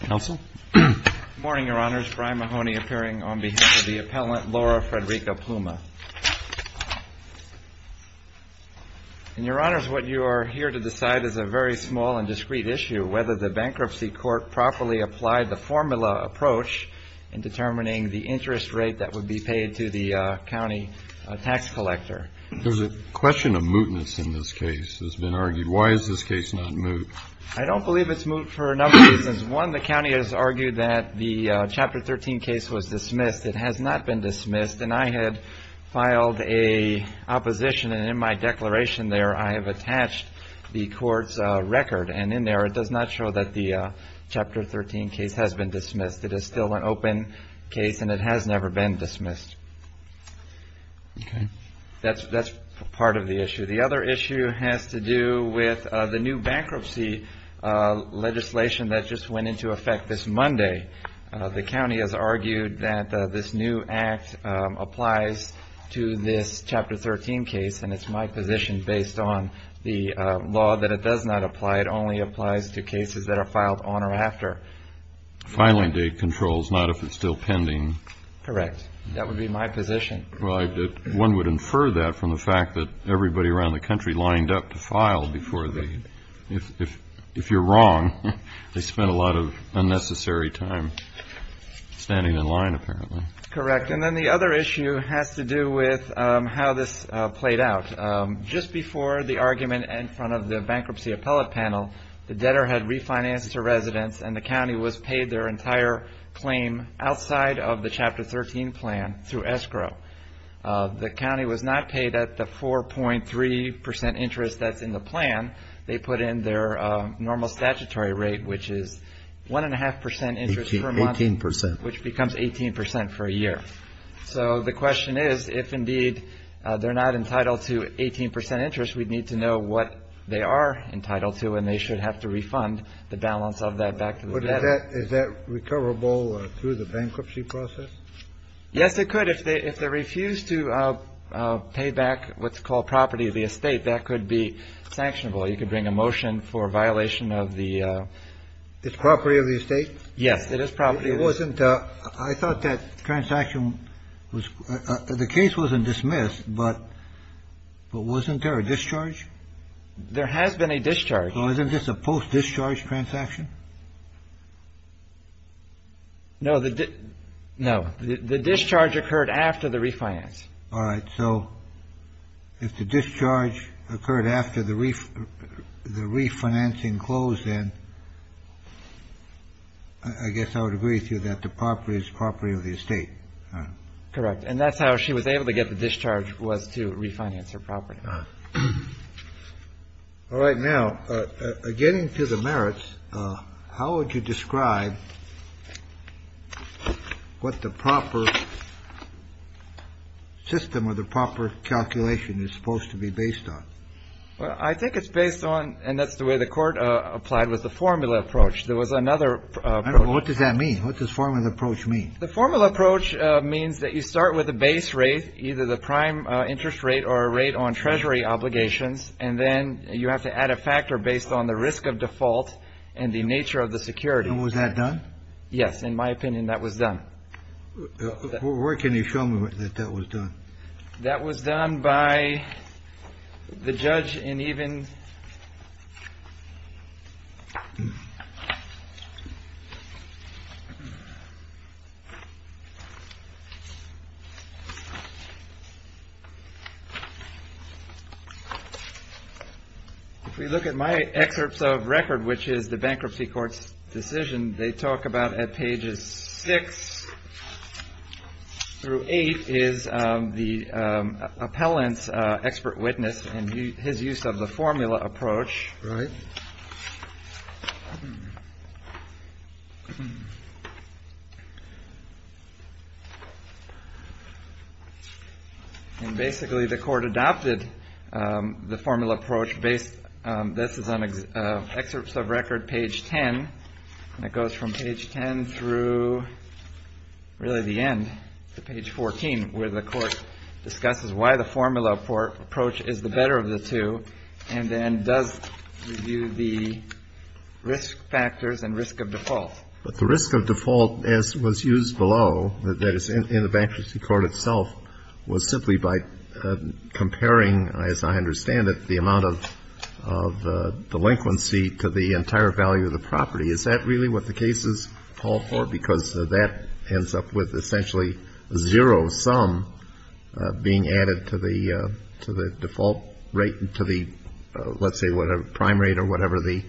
Good morning, Your Honors. Brian Mahoney appearing on behalf of the appellant, Laura Frederica Pluma. And, Your Honors, what you are here to decide is a very small and discreet issue, whether the bankruptcy court properly applied the formula approach in determining the interest rate that would be paid to the county tax collector. There's a question of mootness in this case that's been argued. Why is this case not moot? I don't believe it's moot for a number of reasons. One, the county has argued that the Chapter 13 case was dismissed. It has not been dismissed. And I had filed an opposition, and in my declaration there, I have attached the court's record. And in there, it does not show that the Chapter 13 case has been dismissed. It is still an open case, and it has never been dismissed. Okay. That's part of the issue. The other issue has to do with the new bankruptcy legislation that just went into effect this Monday. The county has argued that this new act applies to this Chapter 13 case, and it's my position based on the law that it does not apply. It only applies to cases that are filed on or after. Filing date controls, not if it's still pending. Correct. That would be my position. Well, one would infer that from the fact that everybody around the country lined up to file before the end. If you're wrong, they spent a lot of unnecessary time standing in line, apparently. Correct. And then the other issue has to do with how this played out. Just before the argument in front of the bankruptcy appellate panel, the debtor had refinanced to residents, and the county was paid their entire claim outside of the Chapter 13 plan through escrow. The county was not paid at the 4.3% interest that's in the plan. They put in their normal statutory rate, which is 1.5% interest per month, which becomes 18% for a year. So the question is, if indeed they're not entitled to 18% interest, we'd need to know what they are entitled to, and they should have to refund the balance of that back to the debtor. Is that recoverable through the bankruptcy process? Yes, it could. If they refuse to pay back what's called property of the estate, that could be sanctionable. You could bring a motion for violation of the ---- It's property of the estate? Yes, it is property of the estate. I thought that transaction was ---- the case wasn't dismissed, but wasn't there a discharge? There has been a discharge. So isn't this a post-discharge transaction? No, the discharge occurred after the refinance. All right. So if the discharge occurred after the refinancing closed, then I guess I would agree with you that the property is property of the estate. Correct. And that's how she was able to get the discharge was to refinance her property. All right. Now, getting to the merits, how would you describe what the proper system or the proper calculation is supposed to be based on? Well, I think it's based on and that's the way the court applied with the formula approach. There was another. What does that mean? What does formula approach mean? The formula approach means that you start with a base rate, either the prime interest rate or a rate on treasury obligations, and then you have to add a factor based on the risk of default and the nature of the security. And was that done? Yes. In my opinion, that was done. Where can you show me that that was done? That was done by the judge and even. If we look at my excerpts of record, which is the bankruptcy court's decision, they talk about at pages six through eight is the appellant's expert witness and his use of the formula approach. Right. And basically the court adopted the formula approach based. This is an excerpt of record page 10, and it goes from page 10 through really the end to page 14, where the court discusses why the formula approach is the better of the two and then does review the risk factors and risk of default. But the risk of default, as was used below, that is in the bankruptcy court itself, was simply by comparing, as I understand it, the amount of delinquency to the entire value of the property. Is that really what the cases call for? Because that ends up with essentially zero sum being added to the default rate, to the let's say prime rate or whatever the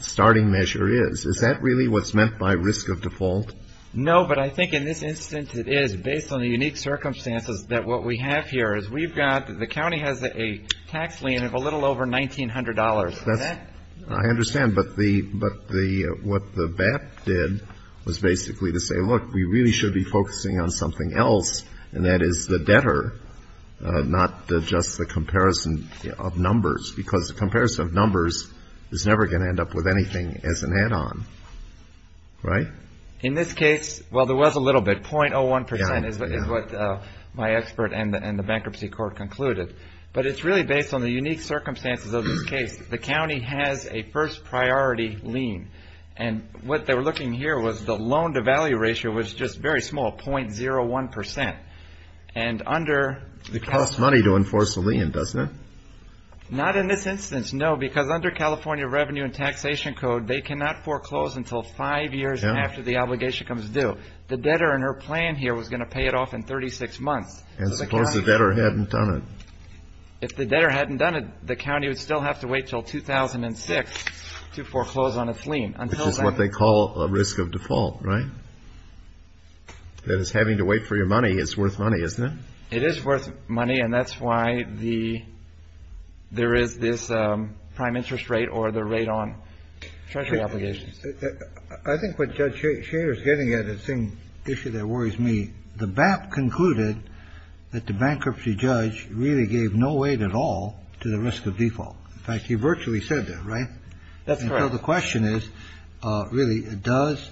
starting measure is. Is that really what's meant by risk of default? No, but I think in this instance it is, based on the unique circumstances, that what we have here is we've got the county has a tax lien of a little over $1,900. Is that? I understand. But what the VAT did was basically to say, look, we really should be focusing on something else, and that is the debtor, not just the comparison of numbers, because the comparison of numbers is never going to end up with anything as an add-on. Right? In this case, well, there was a little bit. 0.01% is what my expert and the bankruptcy court concluded. But it's really based on the unique circumstances of this case. The county has a first priority lien, and what they were looking here was the loan-to-value ratio was just very small, 0.01%. It costs money to enforce a lien, doesn't it? Not in this instance, no, because under California Revenue and Taxation Code, they cannot foreclose until five years after the obligation comes due. The debtor in her plan here was going to pay it off in 36 months. And suppose the debtor hadn't done it? If the debtor hadn't done it, the county would still have to wait until 2006 to foreclose on its lien. Which is what they call a risk of default, right? That is, having to wait for your money is worth money, isn't it? It is worth money, and that's why there is this prime interest rate or the rate on treasury obligations. I think what Judge Shader is getting at is the same issue that worries me. The BAP concluded that the bankruptcy judge really gave no weight at all to the risk of default. In fact, he virtually said that, right? That's correct. So the question is, really, does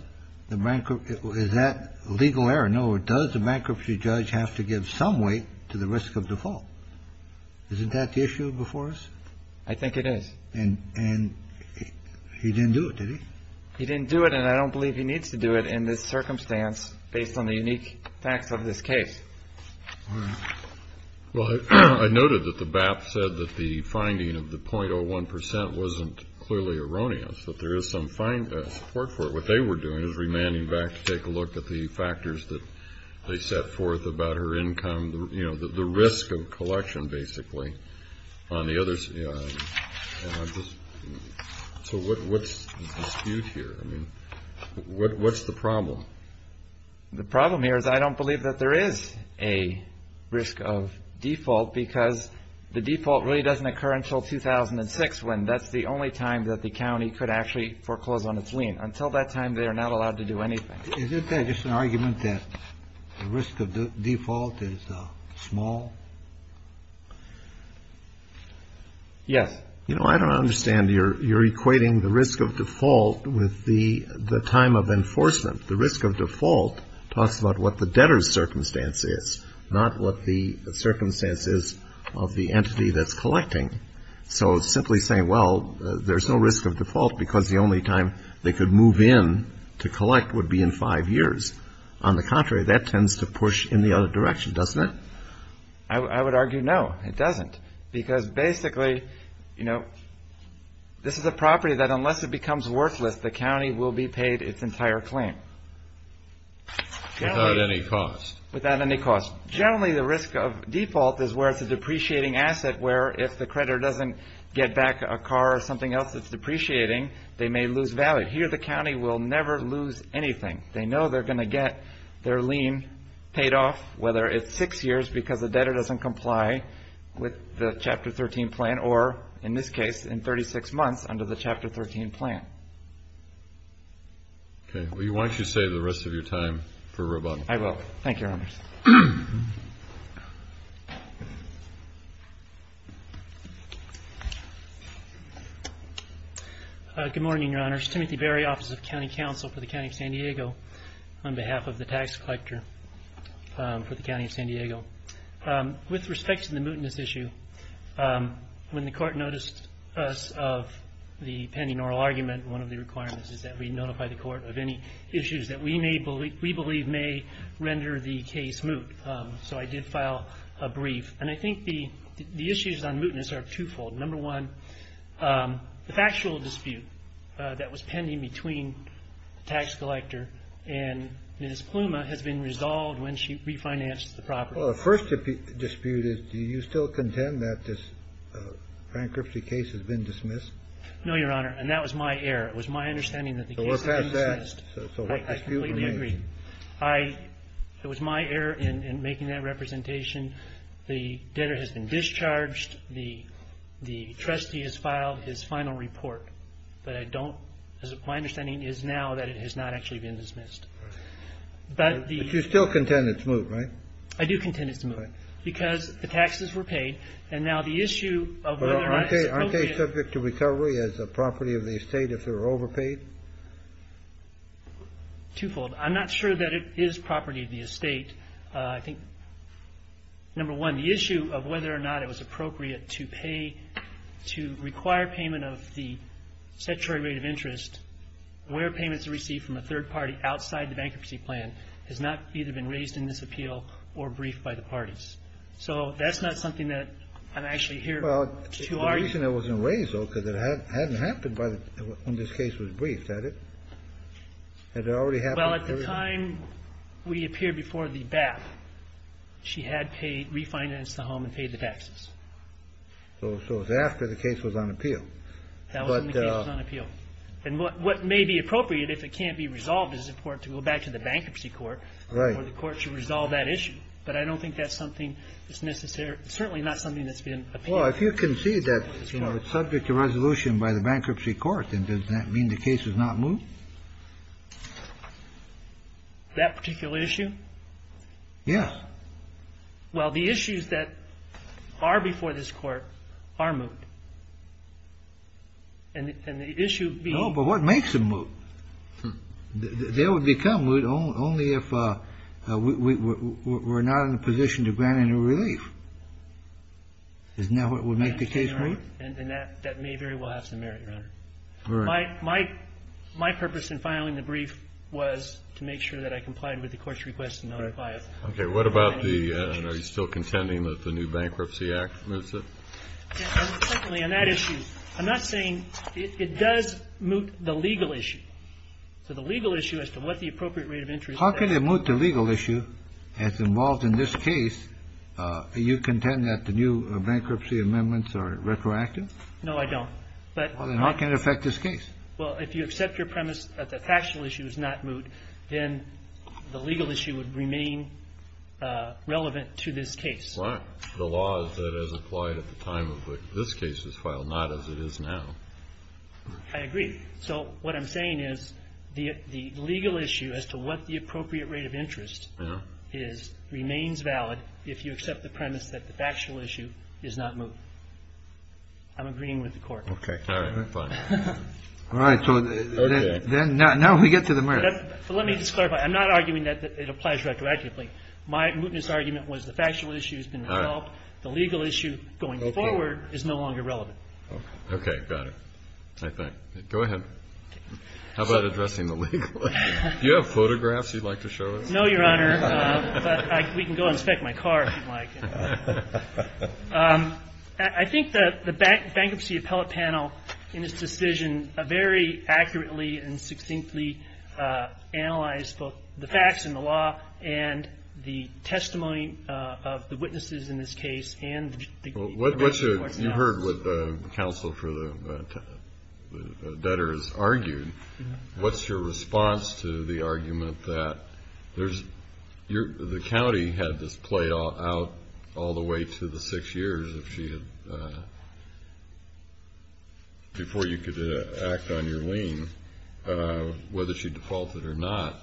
the bankruptcy – is that legal error? Does the bankruptcy judge have to give some weight to the risk of default? Isn't that the issue before us? I think it is. And he didn't do it, did he? He didn't do it, and I don't believe he needs to do it in this circumstance based on the unique facts of this case. Well, I noted that the BAP said that the finding of the 0.01 percent wasn't clearly erroneous, that there is some support for it. What they were doing is remanding BAP to take a look at the factors that they set forth about her income, you know, the risk of collection, basically. So what's the dispute here? I mean, what's the problem? The problem here is I don't believe that there is a risk of default because the default really doesn't occur until 2006, when that's the only time that the county could actually foreclose on its lien. Until that time, they are not allowed to do anything. Isn't there just an argument that the risk of default is small? Yes. You know, I don't understand. You're equating the risk of default with the time of enforcement. The risk of default talks about what the debtor's circumstance is, not what the circumstance is of the entity that's collecting. So simply saying, well, there's no risk of default because the only time they could move in to collect would be in five years. On the contrary, that tends to push in the other direction, doesn't it? I would argue no, it doesn't. Because basically, you know, this is a property that unless it becomes worthless, the county will be paid its entire claim. Without any cost. Without any cost. Generally, the risk of default is where it's a depreciating asset, where if the creditor doesn't get back a car or something else that's depreciating, they may lose value. Here, the county will never lose anything. They know they're going to get their lien paid off, whether it's six years because the debtor doesn't comply with the Chapter 13 plan or, in this case, in 36 months under the Chapter 13 plan. Okay. Why don't you save the rest of your time for Roboto. I will. Thank you, Your Honors. Good morning, Your Honors. Timothy Berry, Office of County Counsel for the County of San Diego, on behalf of the Tax Collector for the County of San Diego. With respect to the mootness issue, when the Court noticed us of the pending oral argument, one of the requirements is that we notify the Court of any issues that we believe may render the case moot. So I did file a brief. And I think the issues on mootness are twofold. Number one, the factual dispute that was pending between the Tax Collector and Ms. Pluma has been resolved when she refinanced the property. Well, the first dispute is, do you still contend that this bankruptcy case has been dismissed? No, Your Honor. And that was my error. It was my understanding that the case had been dismissed. So we're past that. So what dispute remains? I completely agree. It was my error in making that representation. The debtor has been discharged. The trustee has filed his final report. But I don't – my understanding is now that it has not actually been dismissed. Right. But the – But you still contend it's moot, right? I do contend it's moot. Right. Because the taxes were paid. And now the issue of whether or not it's appropriate – Well, I'm not sure that it is property of the estate. I think, number one, the issue of whether or not it was appropriate to pay – to require payment of the statutory rate of interest where payments are received from a third party outside the bankruptcy plan has not either been raised in this appeal or briefed by the parties. So that's not something that I'm actually here to argue. Well, the reason it wasn't raised, though, is that it hadn't happened when this case was briefed, had it? Had it already happened? Well, at the time we appeared before the BAP, she had paid – refinanced the home and paid the taxes. So it was after the case was on appeal. That was when the case was on appeal. And what may be appropriate, if it can't be resolved, is, of course, to go back to the bankruptcy court. Right. Where the court should resolve that issue. But I don't think that's something that's necessarily – certainly not something that's been appealed. Well, if you concede that, you know, it's subject to resolution by the bankruptcy court, then does that mean the case is not moved? That particular issue? Yes. Well, the issues that are before this court are moved. And the issue being – No, but what makes them moved? They would become moved only if we're not in a position to grant any relief. Isn't that what would make the case move? And that may very well have some merit, Your Honor. All right. My purpose in filing the brief was to make sure that I complied with the court's request to not apply it. Okay. What about the – are you still contending that the new Bankruptcy Act moves it? Yes. And secondly, on that issue, I'm not saying – it does move the legal issue. So the legal issue as to what the appropriate rate of interest is. How can it move the legal issue as involved in this case? Are you content that the new bankruptcy amendments are retroactive? No, I don't. Then how can it affect this case? Well, if you accept your premise that the factional issue is not moved, then the legal issue would remain relevant to this case. Right. The law is that it is applied at the time of when this case is filed, not as it is now. I agree. So what I'm saying is the legal issue as to what the appropriate rate of interest is remains valid if you accept the premise that the factual issue is not moved. I'm agreeing with the court. Okay. All right. We're fine. All right. So then now we get to the merit. Let me just clarify. I'm not arguing that it applies retroactively. My mootness argument was the factual issue has been resolved. The legal issue going forward is no longer relevant. Okay. Got it. I think. Go ahead. How about addressing the legal issue? Do you have photographs you'd like to show us? No, Your Honor, but we can go inspect my car if you'd like. I think the bankruptcy appellate panel in its decision very accurately and succinctly analyzed both the facts and the law and the testimony of the witnesses in this case You heard what the counsel for the debtors argued. What's your response to the argument that the county had this played out all the way to the six years before you could act on your lien, whether she defaulted or not,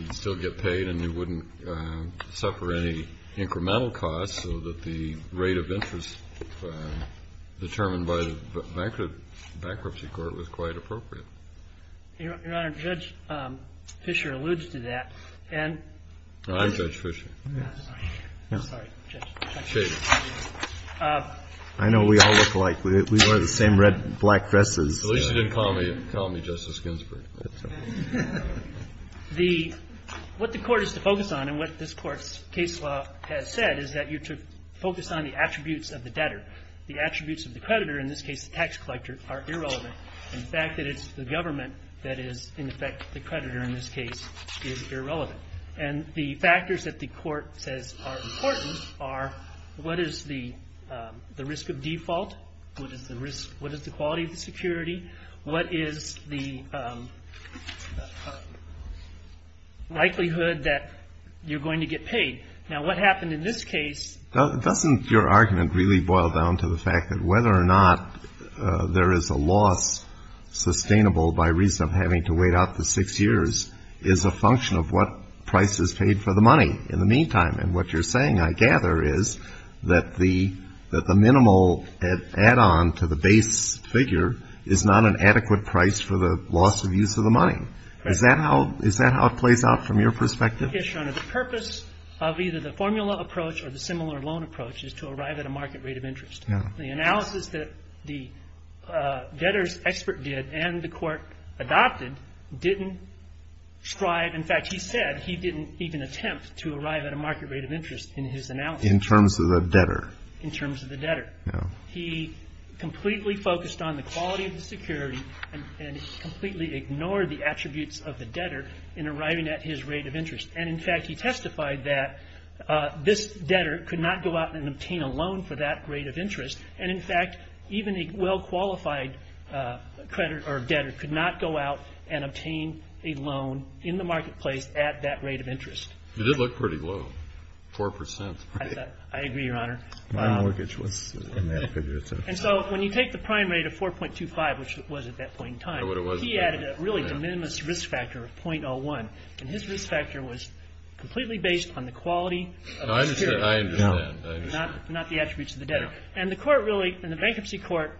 you'd still get paid and you wouldn't suffer any incremental costs so that the rate of interest determined by the bankruptcy court was quite appropriate? Your Honor, Judge Fischer alludes to that. I'm Judge Fischer. I know we all look alike. We wear the same red and black dresses. At least you didn't call me Justice Ginsburg. What the court is to focus on, and what this court's case law has said, is that you're to focus on the attributes of the debtor. The attributes of the creditor, in this case the tax collector, are irrelevant. In fact, it's the government that is, in effect, the creditor in this case is irrelevant. And the factors that the court says are important are what is the risk of default, what is the quality of the security, what is the likelihood that you're going to get paid. Now, what happened in this case? Doesn't your argument really boil down to the fact that whether or not there is a loss sustainable by reason of having to wait out the six years is a function of what price is paid for the money in the meantime? And what you're saying, I gather, is that the minimal add-on to the base figure is not an adequate price for the loss of use of the money. Is that how it plays out from your perspective? Yes, Your Honor. The purpose of either the formula approach or the similar loan approach is to arrive at a market rate of interest. The analysis that the debtor's expert did and the court adopted didn't describe, in fact, he said he didn't even attempt to arrive at a market rate of interest in his analysis. In terms of the debtor? In terms of the debtor. He completely focused on the quality of the security and completely ignored the attributes of the debtor in arriving at his rate of interest. And, in fact, he testified that this debtor could not go out and obtain a loan for that rate of interest. And, in fact, even a well-qualified creditor or debtor could not go out and obtain a loan in the marketplace at that rate of interest. It did look pretty low, 4%. I agree, Your Honor. My mortgage was in that figure. And so when you take the prime rate of 4.25, which it was at that point in time, he added a really de minimis risk factor of .01, and his risk factor was completely based on the quality of the security. I understand. Not the attributes of the debtor. And the court really, in the bankruptcy court,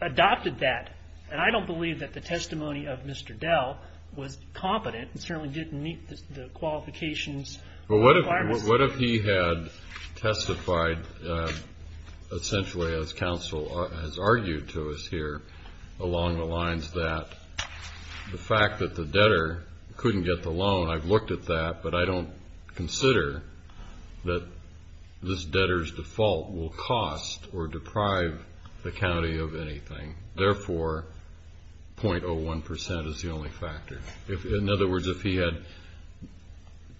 adopted that. And I don't believe that the testimony of Mr. Dell was competent and certainly didn't meet the qualifications requirements. Well, what if he had testified essentially, as counsel has argued to us here, along the lines that the fact that the debtor couldn't get the loan, I've looked at that, but I don't consider that this debtor's default will cost or deprive the county of anything. Therefore, .01% is the only factor. In other words, if he had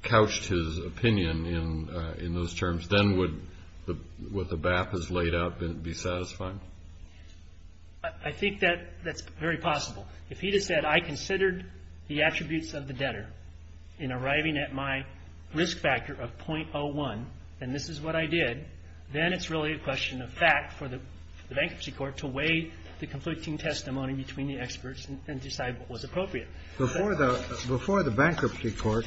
couched his opinion in those terms, then would what the BAP has laid out be satisfying? I think that's very possible. If he had said, I considered the attributes of the debtor in arriving at my risk factor of .01, and this is what I did, then it's really a question of fact for the bankruptcy court to weigh the conflicting testimony between the experts and decide what was appropriate. Before the bankruptcy court,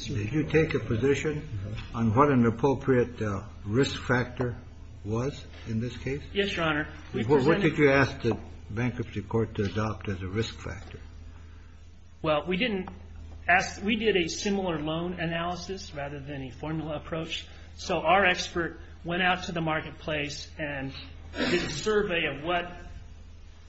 did you take a position on what an appropriate risk factor was in this case? Yes, Your Honor. What did you ask the bankruptcy court to adopt as a risk factor? Well, we didn't ask we did a similar loan analysis rather than a formula approach. So our expert went out to the marketplace and did a survey of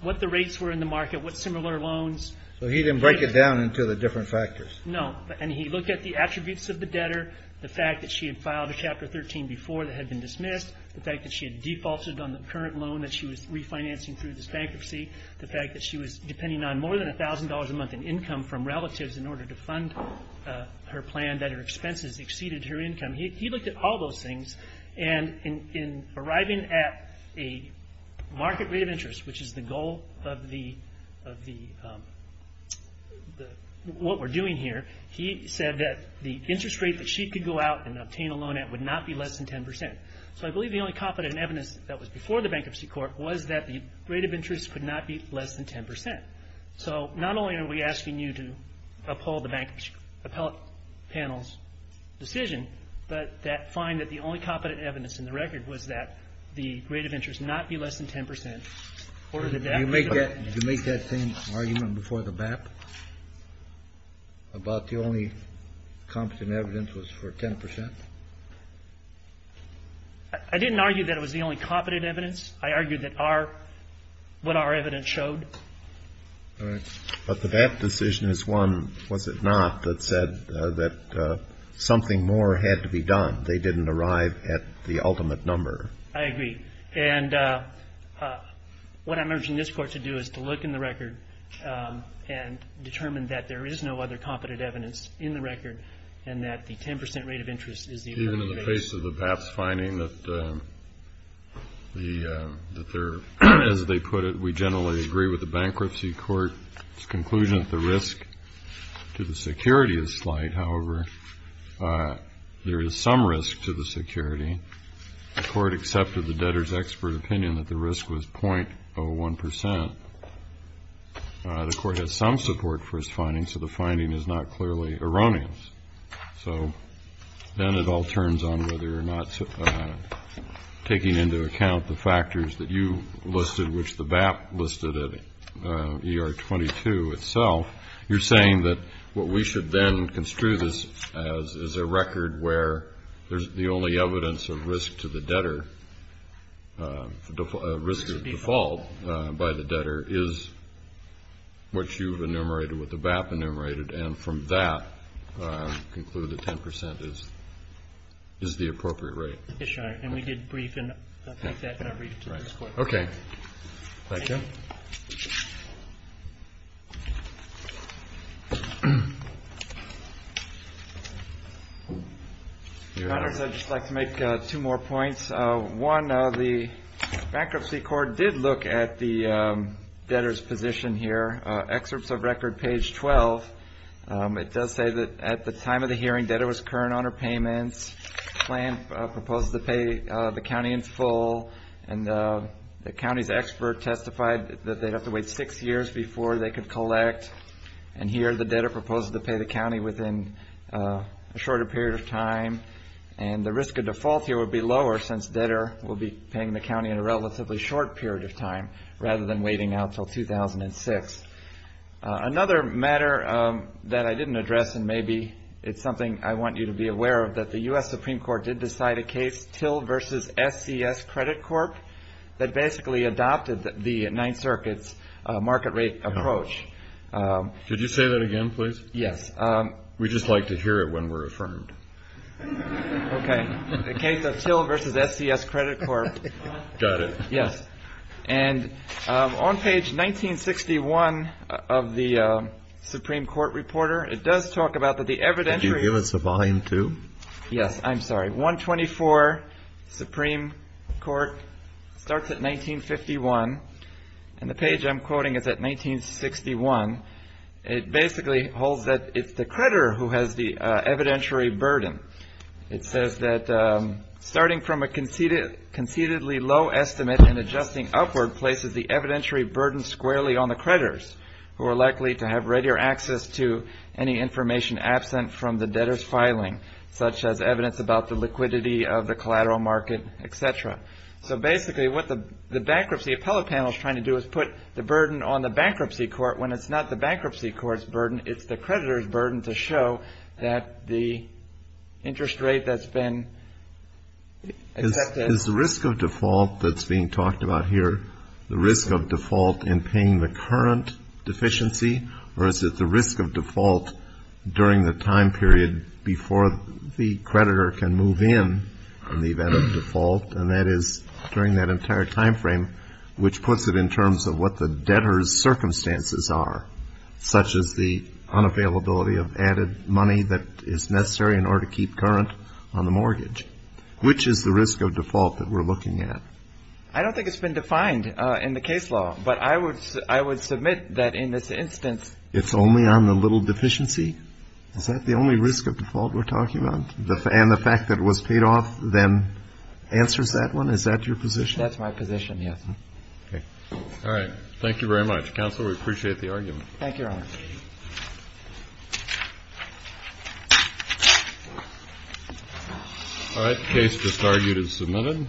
what the rates were in the market, what similar loans. So he didn't break it down into the different factors. No. And he looked at the attributes of the debtor, the fact that she had filed a Chapter 13 before that had been dismissed, the fact that she had defaulted on the current loan that she was refinancing through this bankruptcy, the fact that she was depending on more than $1,000 a month in income from relatives in order to fund her plan, that her expenses exceeded her income. He looked at all those things, and in arriving at a market rate of interest, which is the goal of what we're doing here, he said that the interest rate that she could go out and obtain a loan at would not be less than 10%. So I believe the only competent evidence that was before the bankruptcy court was that the rate of interest could not be less than 10%. So not only are we asking you to uphold the bank's appellate panel's decision, but that find that the only competent evidence in the record was that the rate of interest not be less than 10%. Did you make that same argument before the BAP about the only competent evidence was for 10%? I didn't argue that it was the only competent evidence. I argued that what our evidence showed. All right. But the BAP decision is one, was it not, that said that something more had to be done. They didn't arrive at the ultimate number. I agree. And what I'm urging this Court to do is to look in the record and determine that there is no other competent evidence in the record and that the 10% rate of interest is the only competent evidence. Even in the face of the BAP's finding that they're, as they put it, we generally agree with the bankruptcy court's conclusion that the risk to the security is slight. However, there is some risk to the security. The court accepted the debtor's expert opinion that the risk was 0.01%. The court has some support for his findings, so the finding is not clearly erroneous. So then it all turns on whether or not taking into account the factors that you listed, which the BAP listed at ER 22 itself, you're saying that what we should then construe this as is a record where there's the only evidence of risk to the debtor, a risk of default by the debtor, is what you've enumerated with the BAP enumerated, and from that conclude that 10% is the appropriate rate. Yes, Your Honor. And we did brief that in our brief to this Court. Okay. Thank you. Thank you. Your Honors, I'd just like to make two more points. One, the bankruptcy court did look at the debtor's position here. Excerpts of record, page 12, it does say that at the time of the hearing, debtor was current on her payments, proposed to pay the county in full, and the county's expert testified that they'd have to wait six years before they could collect, and here the debtor proposed to pay the county within a shorter period of time, and the risk of default here would be lower since debtor will be paying the county in a relatively short period of time rather than waiting out until 2006. Another matter that I didn't address, and maybe it's something I want you to be aware of, that the U.S. Supreme Court did decide a case, Till v. SCS Credit Corp., that basically adopted the Ninth Circuit's market rate approach. Could you say that again, please? Yes. We just like to hear it when we're affirmed. Okay. A case of Till v. SCS Credit Corp. Got it. Yes. And on page 1961 of the Supreme Court Reporter, it does talk about that the evidentiary- Could you give us a volume two? Yes, I'm sorry. 124, Supreme Court, starts at 1951, and the page I'm quoting is at 1961. It basically holds that it's the creditor who has the evidentiary burden. It says that starting from a conceitedly low estimate and adjusting upward places the evidentiary burden squarely on the creditors, who are likely to have readier access to any information absent from the debtor's filing, such as evidence about the liquidity of the collateral market, et cetera. So basically what the bankruptcy appellate panel is trying to do is put the burden on the bankruptcy court when it's not the bankruptcy court's burden, it's the creditor's burden to show that the interest rate that's been accepted- Is the risk of default that's being talked about here, the risk of default in paying the current deficiency, or is it the risk of default during the time period before the creditor can move in, in the event of default, and that is during that entire time frame, which puts it in terms of what the debtor's circumstances are, such as the unavailability of added money that is necessary in order to keep current on the mortgage. Which is the risk of default that we're looking at? I don't think it's been defined in the case law, but I would submit that in this instance- It's only on the little deficiency? Is that the only risk of default we're talking about? And the fact that it was paid off then answers that one? Is that your position? That's my position, yes. Okay. All right. Thank you very much. Counsel, we appreciate the argument. Thank you, Your Honor. All right. The case just argued and submitted.